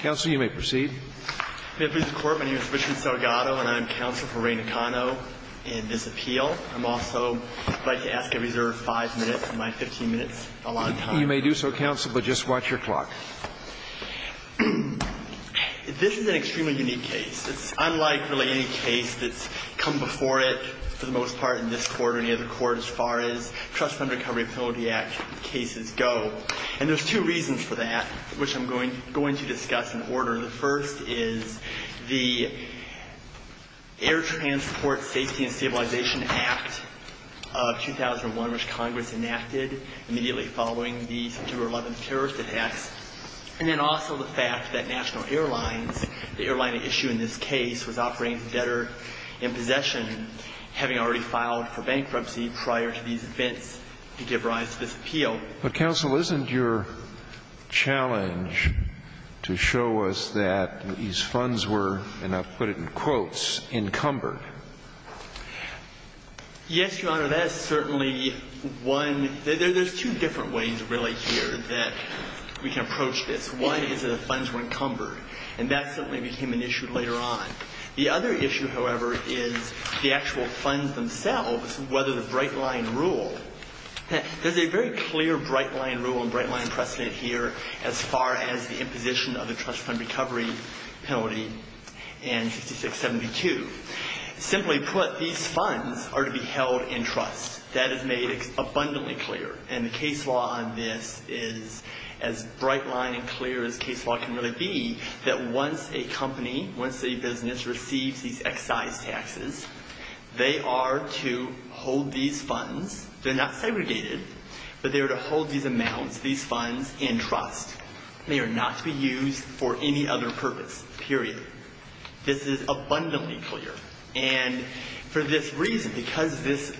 Counsel, you may proceed. May it please the Court, my name is Richard Salgado and I am counsel for Ray Nakano in this appeal. I'm also going to ask to reserve five minutes of my 15 minutes. You may do so, counsel, but just watch your clock. This is an extremely unique case. It's unlike really any case that's come before it for the most part in this court or any other court as far as there are two reasons for that which I'm going to discuss in order. The first is the Air Transport Safety and Stabilization Act of 2001, which Congress enacted immediately following the September 11th terrorist attacks, and then also the fact that National Airlines, the airline at issue in this case, was operating as a debtor in possession, having already filed for bankruptcy prior to these events to give rise to this appeal. But, counsel, isn't your challenge to show us that these funds were, and I'll put it in quotes, encumbered? Yes, Your Honor, that is certainly one. There's two different ways, really, here that we can approach this. One is that the funds were encumbered, and that certainly became an issue later on. The other issue, however, is the actual funds themselves, whether the Bright Line rule. There's a very clear Bright Line rule and Bright Line precedent here as far as the imposition of the Trust Fund Recovery Penalty in 6672. Simply put, these funds are to be held in trust. That is made abundantly clear, and the case law on this is as bright line and clear as case law can really be, that once a company, once a business receives these excise taxes, they are to hold these funds. They're not segregated, but they're to hold these amounts, these funds, in trust. They are not to be used for any other purpose, period. This is abundantly clear. And for this reason, because this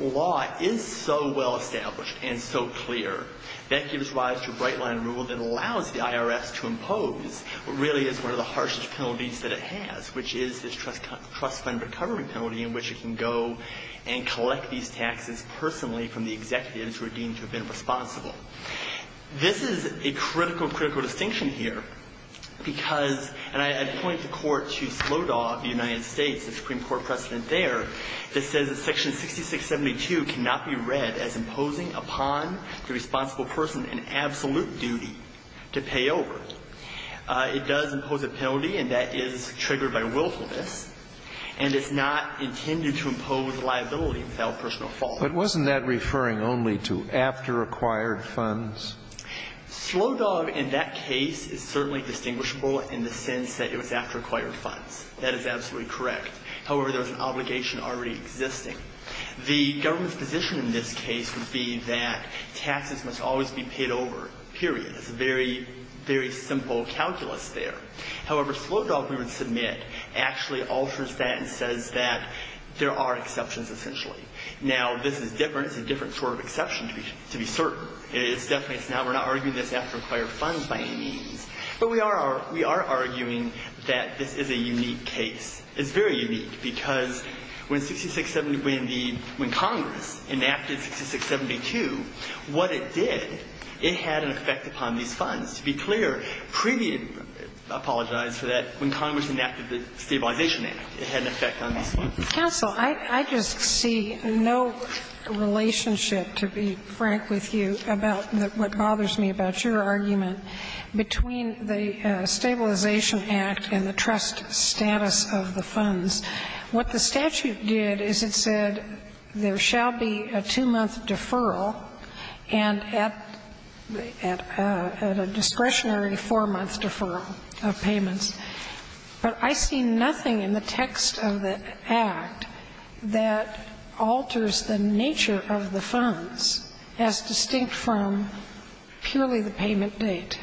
law is so well established and so clear, that gives rise to a Bright Line rule that allows the IRS to impose what really is one of the harshest penalties that it has, which is this Trust Fund Recovery Penalty in which it can go and collect these taxes personally from the executives who are deemed to have been responsible. This is a critical, critical distinction here, because, and I point the court to Slodoff, the United States, the Supreme Court has said that Section 672 cannot be read as imposing upon the responsible person an absolute duty to pay over. It does impose a penalty, and that is triggered by willfulness, and it's not intended to impose liability without personal fault. But wasn't that referring only to after-acquired funds? Slodoff in that case is certainly distinguishable in the sense that it was after-acquired funds. That is absolutely correct. However, there's an obligation already existing. The government's position in this case would be that taxes must always be paid over, period. It's a very, very simple calculus there. However, Slodoff, we would submit, actually alters that and says that there are exceptions, essentially. Now, this is different. It's a different sort of exception, to be certain. It's definitely, it's not, we're not arguing this after-acquired funds by any means. But we are, we are arguing that this is a unique case. It's very unique because when 6670, when the, when Congress enacted 6672, what it did, it had an effect upon these funds. To be clear, previous, I apologize for that, when Congress enacted the Stabilization Act, it had an effect on these funds. Counsel, I just see no relationship, to be frank with you, about what bothers me about your argument between the Stabilization Act and the trust status of the funds. What the statute did is it said there shall be a two-month deferral and at, at a discretionary But I see nothing in the text of the Act that alters the nature of the funds as distinct from purely the payment date.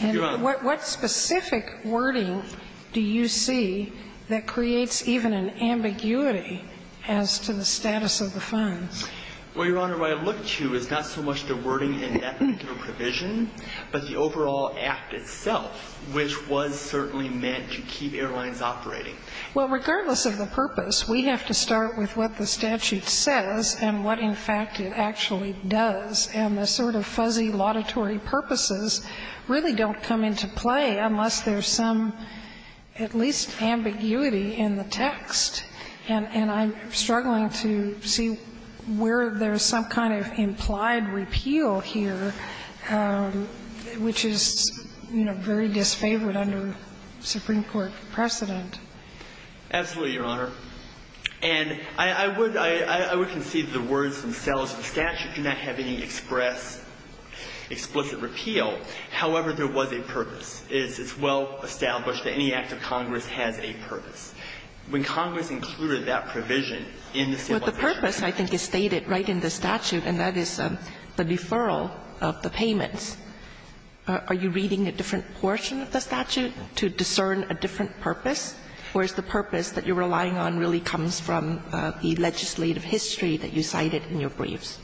And what specific wording do you see that creates even an ambiguity as to the status of the funds? Well, Your Honor, what I look to is not so much the wording in that particular provision, but the overall Act itself. Which was certainly meant to keep airlines operating. Well, regardless of the purpose, we have to start with what the statute says and what, in fact, it actually does. And the sort of fuzzy laudatory purposes really don't come into play unless there's some, at least, ambiguity in the text. And I'm struggling to see where there's some kind of implied repeal here, which is, you know, very disfavored under Supreme Court precedent. Absolutely, Your Honor. And I would, I would concede the words themselves. The statute did not have any express, explicit repeal. However, there was a purpose. It's well established that any act of Congress has a purpose. When Congress included that provision in the Stabilization Act. But the purpose, I think, is stated right in the statute, and that is the deferral of the payments. Are you reading a different portion of the statute to discern a different purpose? Or is the purpose that you're relying on really comes from the legislative history that you cited in your briefs?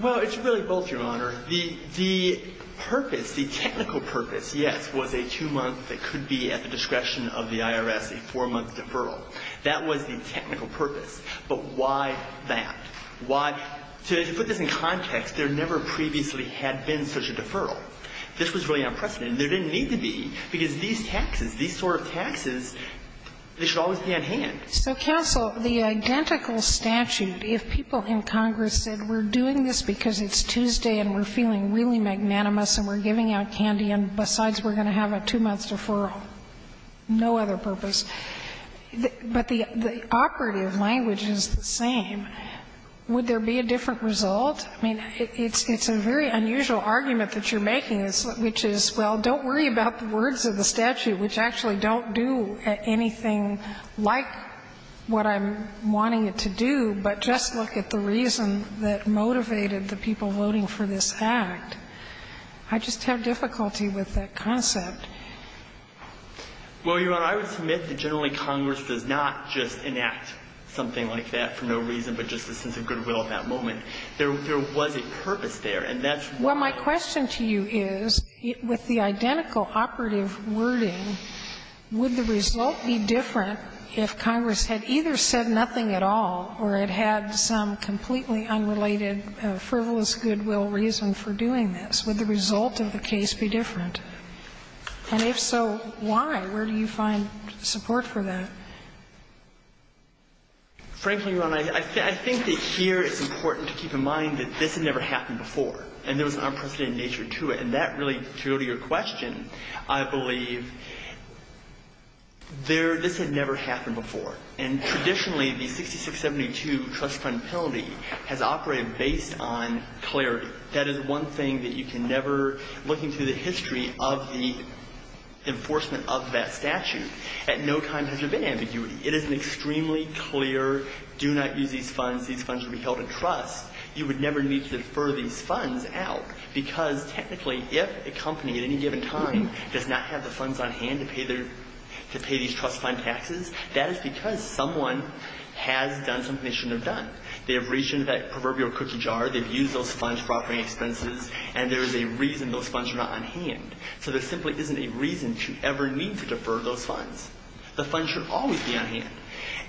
Well, it's really both, Your Honor. The purpose, the technical purpose, yes, was a two-month, it could be at the discretion of the IRS, a four-month deferral. That was the technical purpose. But why that? Why, to put this in context, there never previously had been such a deferral. This was really unprecedented. There didn't need to be, because these taxes, these sort of taxes, they should always be on hand. So, counsel, the identical statute, if people in Congress said, we're doing this because it's Tuesday and we're feeling really magnanimous and we're giving out candy and, besides, we're going to have a two-month deferral, no other purpose. But the operative language is the same. Would there be a different result? I mean, it's a very unusual argument that you're making, which is, well, don't worry about the words of the statute, which actually don't do anything like what I'm wanting it to do, but just look at the reason that motivated the people voting for this act. I just have difficulty with that concept. Well, Your Honor, I would submit that generally Congress does not just enact something like that for no reason, but just a sense of goodwill at that moment. There was a purpose there, and that's why. Well, my question to you is, with the identical operative wording, would the result be different if Congress had either said nothing at all or it had some completely unrelated frivolous goodwill reason for doing this? Would the result of the case be different? And if so, why? Where do you find support for that? Frankly, Your Honor, I think that here it's important to keep in mind that this had never happened before, and there was an unprecedented nature to it. And that really, to go to your question, I believe there this had never happened before. And traditionally, the 6672 trust fund penalty has operated based on clarity. That is one thing that you can never look into the history of the enforcement of that statute. At no time has there been ambiguity. It is an extremely clear, do not use these funds. These funds should be held in trust. You would never need to defer these funds out, because technically, if a company at any given time does not have the funds on hand to pay these trust fund taxes, that is because someone has done something they shouldn't have done. They have reached into that proverbial cookie jar. They have used those funds for operating expenses, and there is a reason those funds are not on hand. So there simply isn't a reason to ever need to defer those funds. The funds should always be on hand.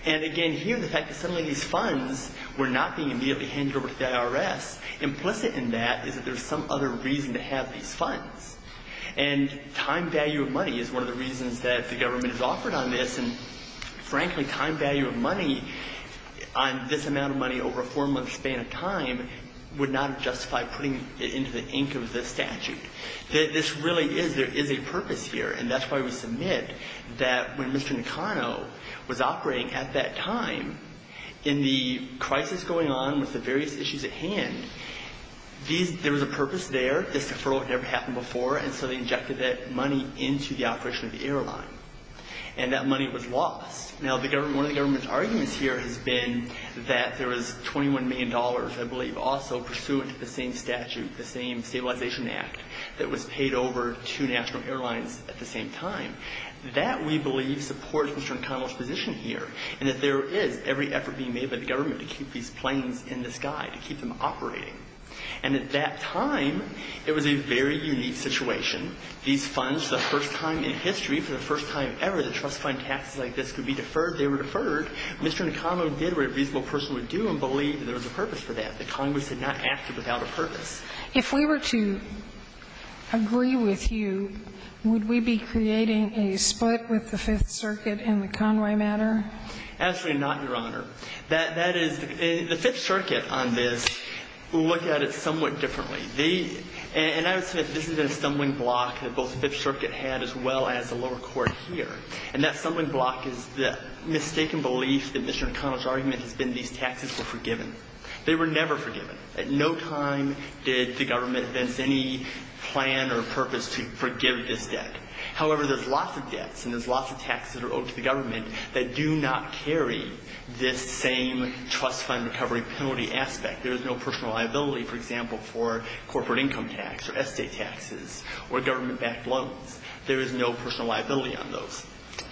And again, here, the fact that suddenly these funds were not being immediately handed over to the IRS, implicit in that is that there is some other reason to have these funds. And time value of money is one of the reasons that the government has offered on this. And frankly, time value of money on this amount of money over a four-month span of time would not justify putting it into the ink of this statute. This really is, there is a purpose here, and that's why we submit that when Mr. Nakano was operating at that time, in the crisis going on with the various issues at hand, there was a purpose there, this deferral had never happened before, and so they injected that money into the operation of the airline. And that money was lost. Now, one of the government's arguments here has been that there was $21 million I believe also pursuant to the same statute, the same Stabilization Act, that was paid over to national airlines at the same time. That, we believe, supports Mr. Nakano's position here, and that there is every effort being made by the government to keep these planes in the sky, to keep them operating. And at that time, it was a very unique situation. These funds, the first time in history, for the first time ever, that trust fund taxes like this could be deferred, they were deferred. Mr. Nakano did what a reasonable person would do and believe there was a purpose for that. The Congress had not acted without a purpose. If we were to agree with you, would we be creating a split with the Fifth Circuit in the Conway matter? Absolutely not, Your Honor. That is, the Fifth Circuit on this looked at it somewhat differently. They, and I would say this has been a stumbling block that both the Fifth Circuit had as well as the lower court here. And that stumbling block is the mistaken belief that Mr. Nakano's argument has been these taxes were forgiven. They were never forgiven. At no time did the government advance any plan or purpose to forgive this debt. However, there's lots of debts and there's lots of taxes that are owed to the government that do not carry this same trust fund recovery penalty aspect. There is no personal liability, for example, for corporate income tax or estate taxes or government-backed loans. There is no personal liability on those.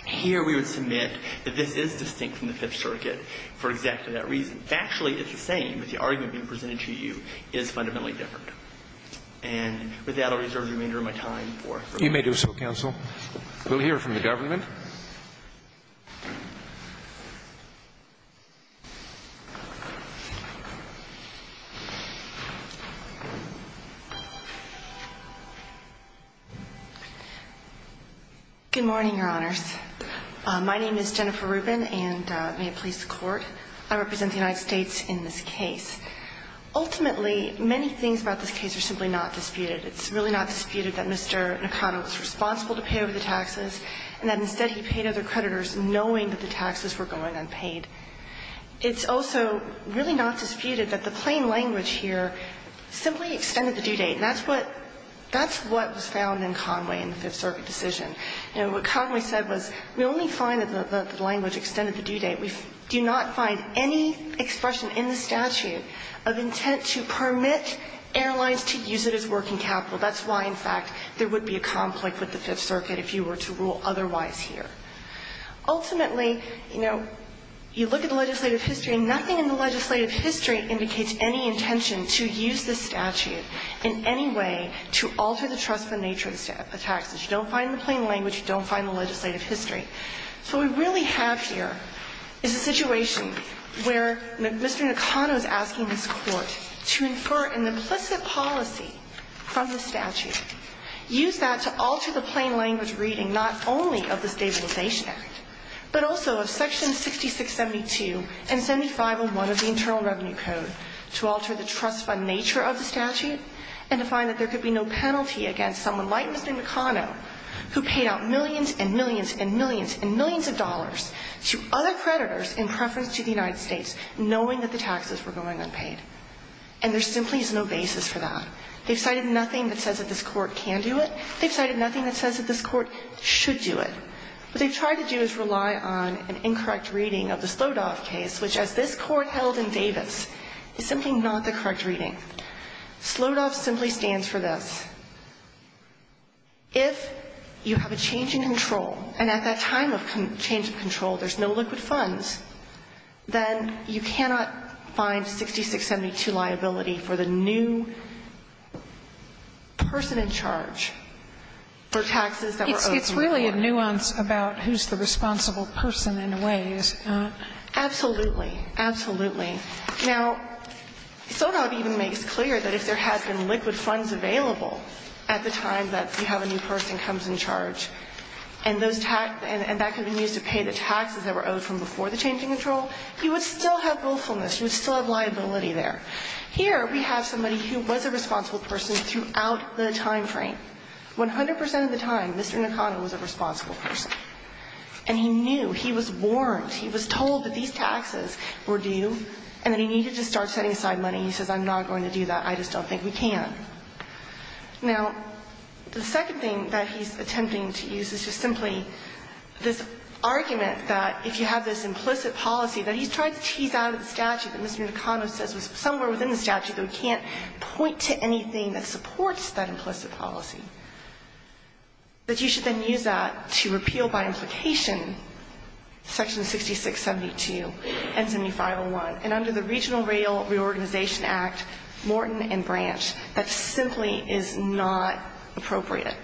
Here we would submit that this is distinct from the Fifth Circuit for exactly that reason. Factually, it's the same, but the argument being presented to you is fundamentally different. And with that, I'll reserve the remainder of my time for rebuttal. You may do so, counsel. We'll hear from the government. Good morning, Your Honors. My name is Jennifer Rubin, and may it please the Court, I represent the United States in this case. Ultimately, many things about this case are simply not disputed. It's really not disputed that Mr. Nakano was responsible to pay over the taxes and that instead he paid other creditors knowing that the taxes were going unpaid. It's also really not disputed that the plain language here simply extended the due date. And that's what was found in Conway in the Fifth Circuit decision. You know, what Conway said was we only find that the language extended the due date. We do not find any expression in the statute of intent to permit airlines to use it as working capital. That's why, in fact, there would be a conflict with the Fifth Circuit if you were to rule otherwise here. Ultimately, you know, you look at the legislative history, nothing in the legislative history indicates any intention to use this statute in any way to alter the trustful nature of the taxes. You don't find the plain language. You don't find the legislative history. So what we really have here is a situation where Mr. Nakano is asking this Court to infer an implicit policy from the statute. Use that to alter the plain language reading not only of the Stabilization Act, but also of Section 6672 and 7501 of the Internal Revenue Code to alter the trustful nature of the statute and to find that there could be no penalty against someone like Mr. Nakano who paid out millions and millions and millions and millions of dollars to other creditors in preference to the United States knowing that the basis for that. They've cited nothing that says that this Court can do it. They've cited nothing that says that this Court should do it. What they've tried to do is rely on an incorrect reading of the Slodoff case, which as this Court held in Davis, is simply not the correct reading. Slodoff simply stands for this. If you have a change in control, and at that time of change of control there's no liquid funds, then you cannot find 6672 liability for the new person in charge for taxes that were owed to him. It's really a nuance about who's the responsible person in a way, is it not? Absolutely. Absolutely. Now, Slodoff even makes clear that if there has been liquid funds available at the time that you have a new person comes in charge, and those tax – and that could have been used to pay the taxes that were owed from before the change in control, he would still have willfulness, he would still have liability there. Here we have somebody who was a responsible person throughout the time frame. 100 percent of the time, Mr. Nakano was a responsible person. And he knew, he was warned, he was told that these taxes were due and that he needed to start setting aside money. He says, I'm not going to do that. I just don't think we can. Now, the second thing that he's attempting to use is just simply this argument that if you have this implicit policy that he's tried to tease out of the statute and Mr. Nakano says was somewhere within the statute, though he can't point to anything that supports that implicit policy, that you should then use that to repeal by implication Section 6672 and 7501. And under the Regional Rail Reorganization Act, Morton and Branch, that simply is not appropriate.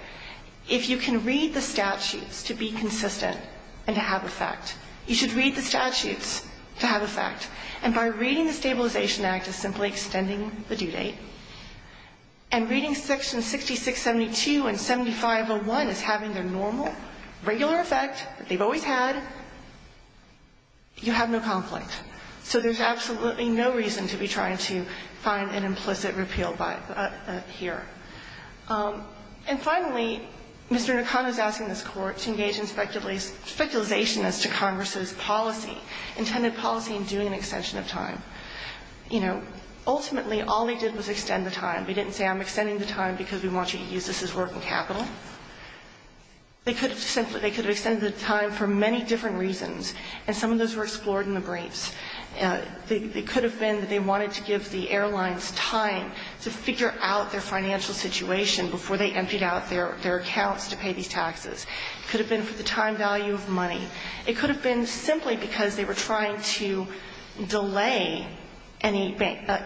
If you can read the statutes to be consistent and to have effect, you should read the statutes to have effect. And by reading the Stabilization Act as simply extending the due date, and reading Section 6672 and 7501 as having their normal, regular effect that they've always had, you have no conflict. So there's absolutely no reason to be trying to find an implicit repeal here. And finally, Mr. Nakano is asking this Court to engage in speculation as to Congress's policy, intended policy in doing an extension of time. You know, ultimately, all they did was extend the time. They didn't say, I'm extending the time because we want you to use this as working capital. They could have extended the time for many different reasons, and some of those were explored in the briefs. It could have been that they wanted to give the airlines time to figure out their financial situation before they emptied out their accounts to pay these taxes. It could have been for the time value of money. It could have been simply because they were trying to delay any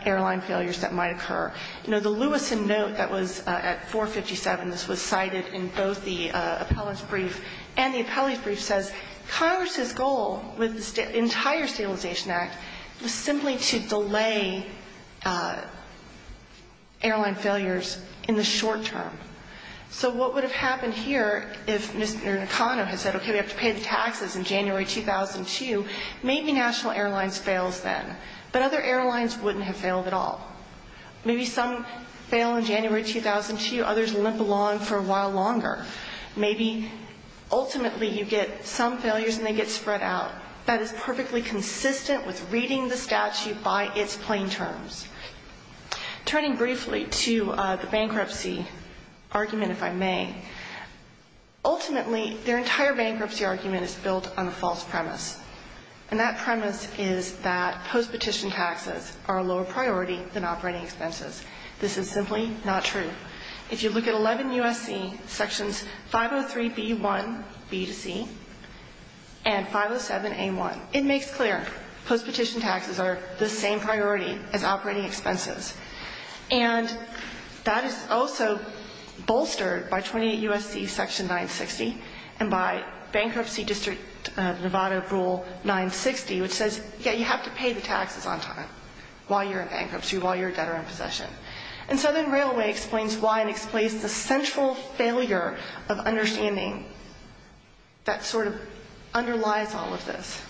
airline failures that might occur. You know, the Lewis and Note that was at 457, this was cited in both the appellant's brief, says Congress's goal with the entire Stabilization Act was simply to delay airline failures in the short term. So what would have happened here if Mr. Nakano had said, okay, we have to pay the taxes in January 2002, maybe National Airlines fails then. But other airlines wouldn't have failed at all. Maybe some fail in January 2002, others limp along for a while longer. Maybe ultimately you get some failures and they get spread out. That is perfectly consistent with reading the statute by its plain terms. Turning briefly to the bankruptcy argument, if I may, ultimately their entire bankruptcy argument is built on a false premise. And that premise is that post-petition taxes are a lower priority than operating expenses. This is simply not true. If you look at 11 U.S.C. sections 503b1b2c and 507a1, it makes clear post-petition taxes are the same priority as operating expenses. And that is also bolstered by 28 U.S.C. section 960 and by bankruptcy district Nevada rule 960, which says, yeah, you have to pay the taxes on time while you're in bankruptcy, while you're a debtor in possession. And Southern Railway explains why and explains the central failure of understanding that sort of underlies all of this.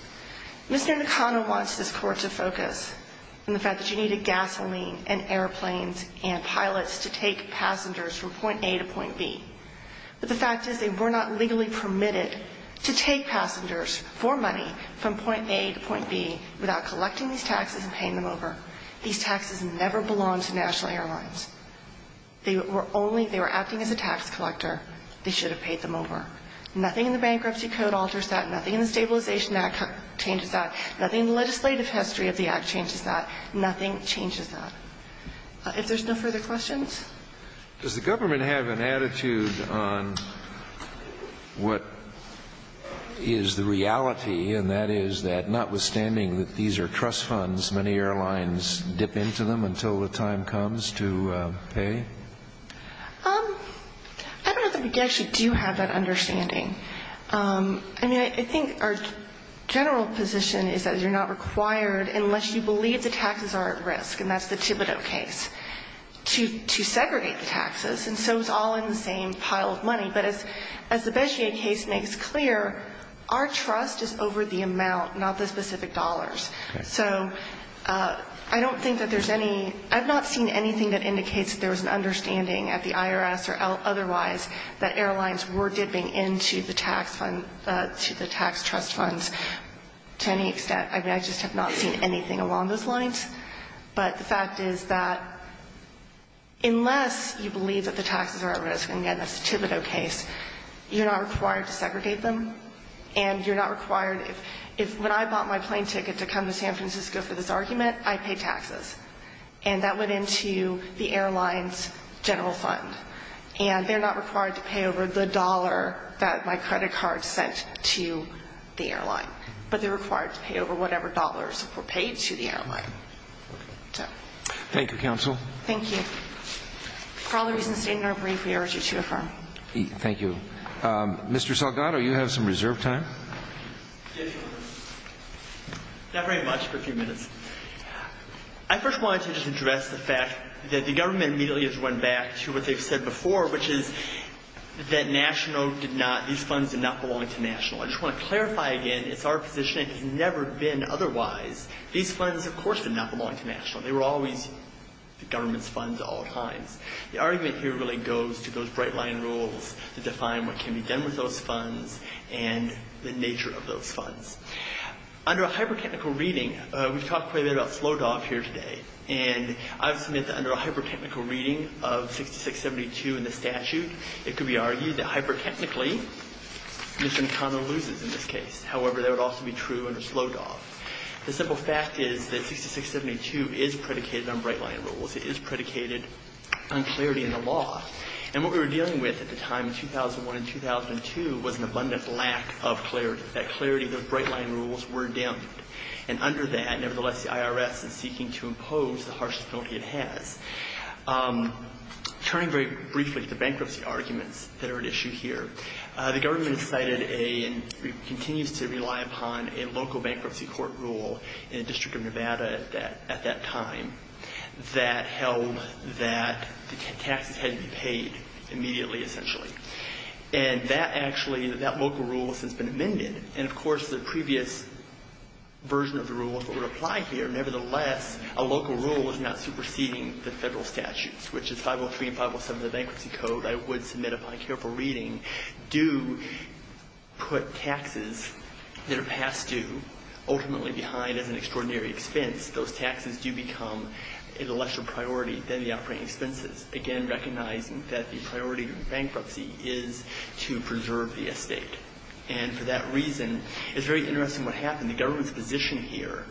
Mr. Nakano wants this court to focus on the fact that you needed gasoline and airplanes and pilots to take passengers from point A to point B. But the fact is they were not legally permitted to take passengers for money from point A to point B without collecting these taxes and paying them over. These taxes never belonged to National Airlines. They were only they were acting as a tax collector. They should have paid them over. Nothing in the Bankruptcy Code alters that. Nothing in the Stabilization Act changes that. Nothing in the legislative history of the Act changes that. Nothing changes that. If there's no further questions. Scalia. Does the government have an attitude on what is the reality, and that is that notwithstanding that these are trust funds, many airlines dip into them until the time comes to pay? I don't know that we actually do have that understanding. I mean, I think our general position is that you're not required, unless you believe the taxes are at risk, and that's the Thibodeau case, to segregate the taxes. And so it's all in the same pile of money. But as the Beshier case makes clear, our trust is over the amount, not the specific dollars. So I don't think that there's any – I've not seen anything that indicates that there was an understanding at the IRS or otherwise that airlines were dipping into the tax fund – to the tax trust funds to any extent. I mean, I just have not seen anything along those lines. But the fact is that unless you believe that the taxes are at risk – and again, that's the Thibodeau case – you're not required to segregate them, and you're not required – if – when I bought my plane ticket to come to San Francisco for this argument, I paid taxes. And that went into the airline's general fund. And they're not required to pay over the dollar that my credit card sent to the airline. But they're required to pay over whatever dollars were paid to the airline. So. Thank you, counsel. Thank you. For all the reasons stated in our brief, we urge you to affirm. Thank you. Mr. Salgado, you have some reserve time. Yes, Your Honor. Not very much for a few minutes. I first wanted to just address the fact that the government immediately has run back to what they've said before, which is that national did not – these funds did not belong to national. I just want to clarify again. It's our position. It has never been otherwise. These funds, of course, did not belong to national. They were always the government's funds at all times. The argument here really goes to those bright-line rules that define what can be done with those funds and the nature of those funds. Under a hyper-technical reading – we've talked quite a bit about SLODOF here today. And I've submitted that under a hyper-technical reading of 6672 in the statute, it could be argued that hyper-technically, Mr. McConnell loses in this case. However, that would also be true under SLODOF. The simple fact is that 6672 is predicated on bright-line rules. It is predicated on clarity in the law. And what we were dealing with at the time in 2001 and 2002 was an abundant lack of clarity, that clarity of the bright-line rules were dimmed. And under that, nevertheless, the IRS is seeking to impose the harshest penalty it has. Turning very briefly to bankruptcy arguments that are at issue here, the government cited and continues to rely upon a local bankruptcy court rule in the District of Nevada at that time that held that the taxes had to be paid immediately, essentially. And that actually – that local rule has since been amended. And, of course, the previous version of the rule would apply here. Nevertheless, a local rule is not superseding the federal statutes, which is 503 and 507 of the Bankruptcy Code. I would submit upon careful reading, do put taxes that are past due, ultimately behind as an extraordinary expense. Those taxes do become a lesser priority than the outpouring expenses, again recognizing that the priority of bankruptcy is to preserve the estate. And for that reason, it's very interesting what happened. The government's position here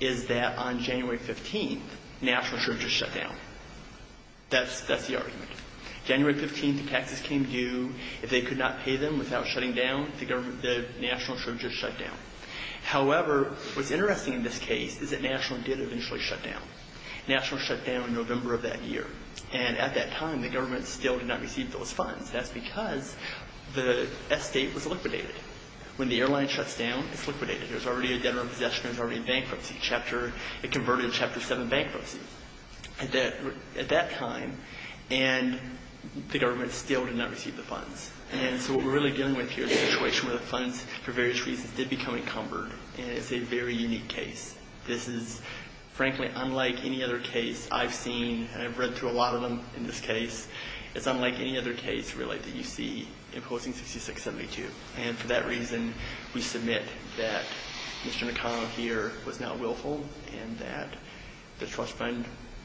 is that on January 15th, national insurance was shut down. That's the argument. January 15th, the taxes came due. If they could not pay them without shutting down, the government – the national insurance was shut down. However, what's interesting in this case is that national did eventually shut down. National shut down in November of that year. And at that time, the government still did not receive those funds. That's because the estate was liquidated. When the airline shuts down, it's liquidated. There's already a debtor in possession. There's already a bankruptcy. Chapter – it converted to Chapter 7 bankruptcy at that time. And the government still did not receive the funds. And so what we're really dealing with here is a situation where the funds, for various reasons, did become encumbered. And it's a very unique case. This is, frankly, unlike any other case I've seen, and I've read through a lot of them in this case. It's unlike any other case, really, that you see imposing 6672. And for that reason, we submit that Mr. McConnell here was not willful and that the Trust Fund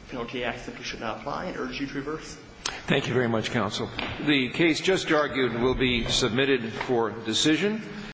Penalty Act simply should not apply and urge you to reverse. Thank you very much, counsel. The case just argued will be submitted for decision.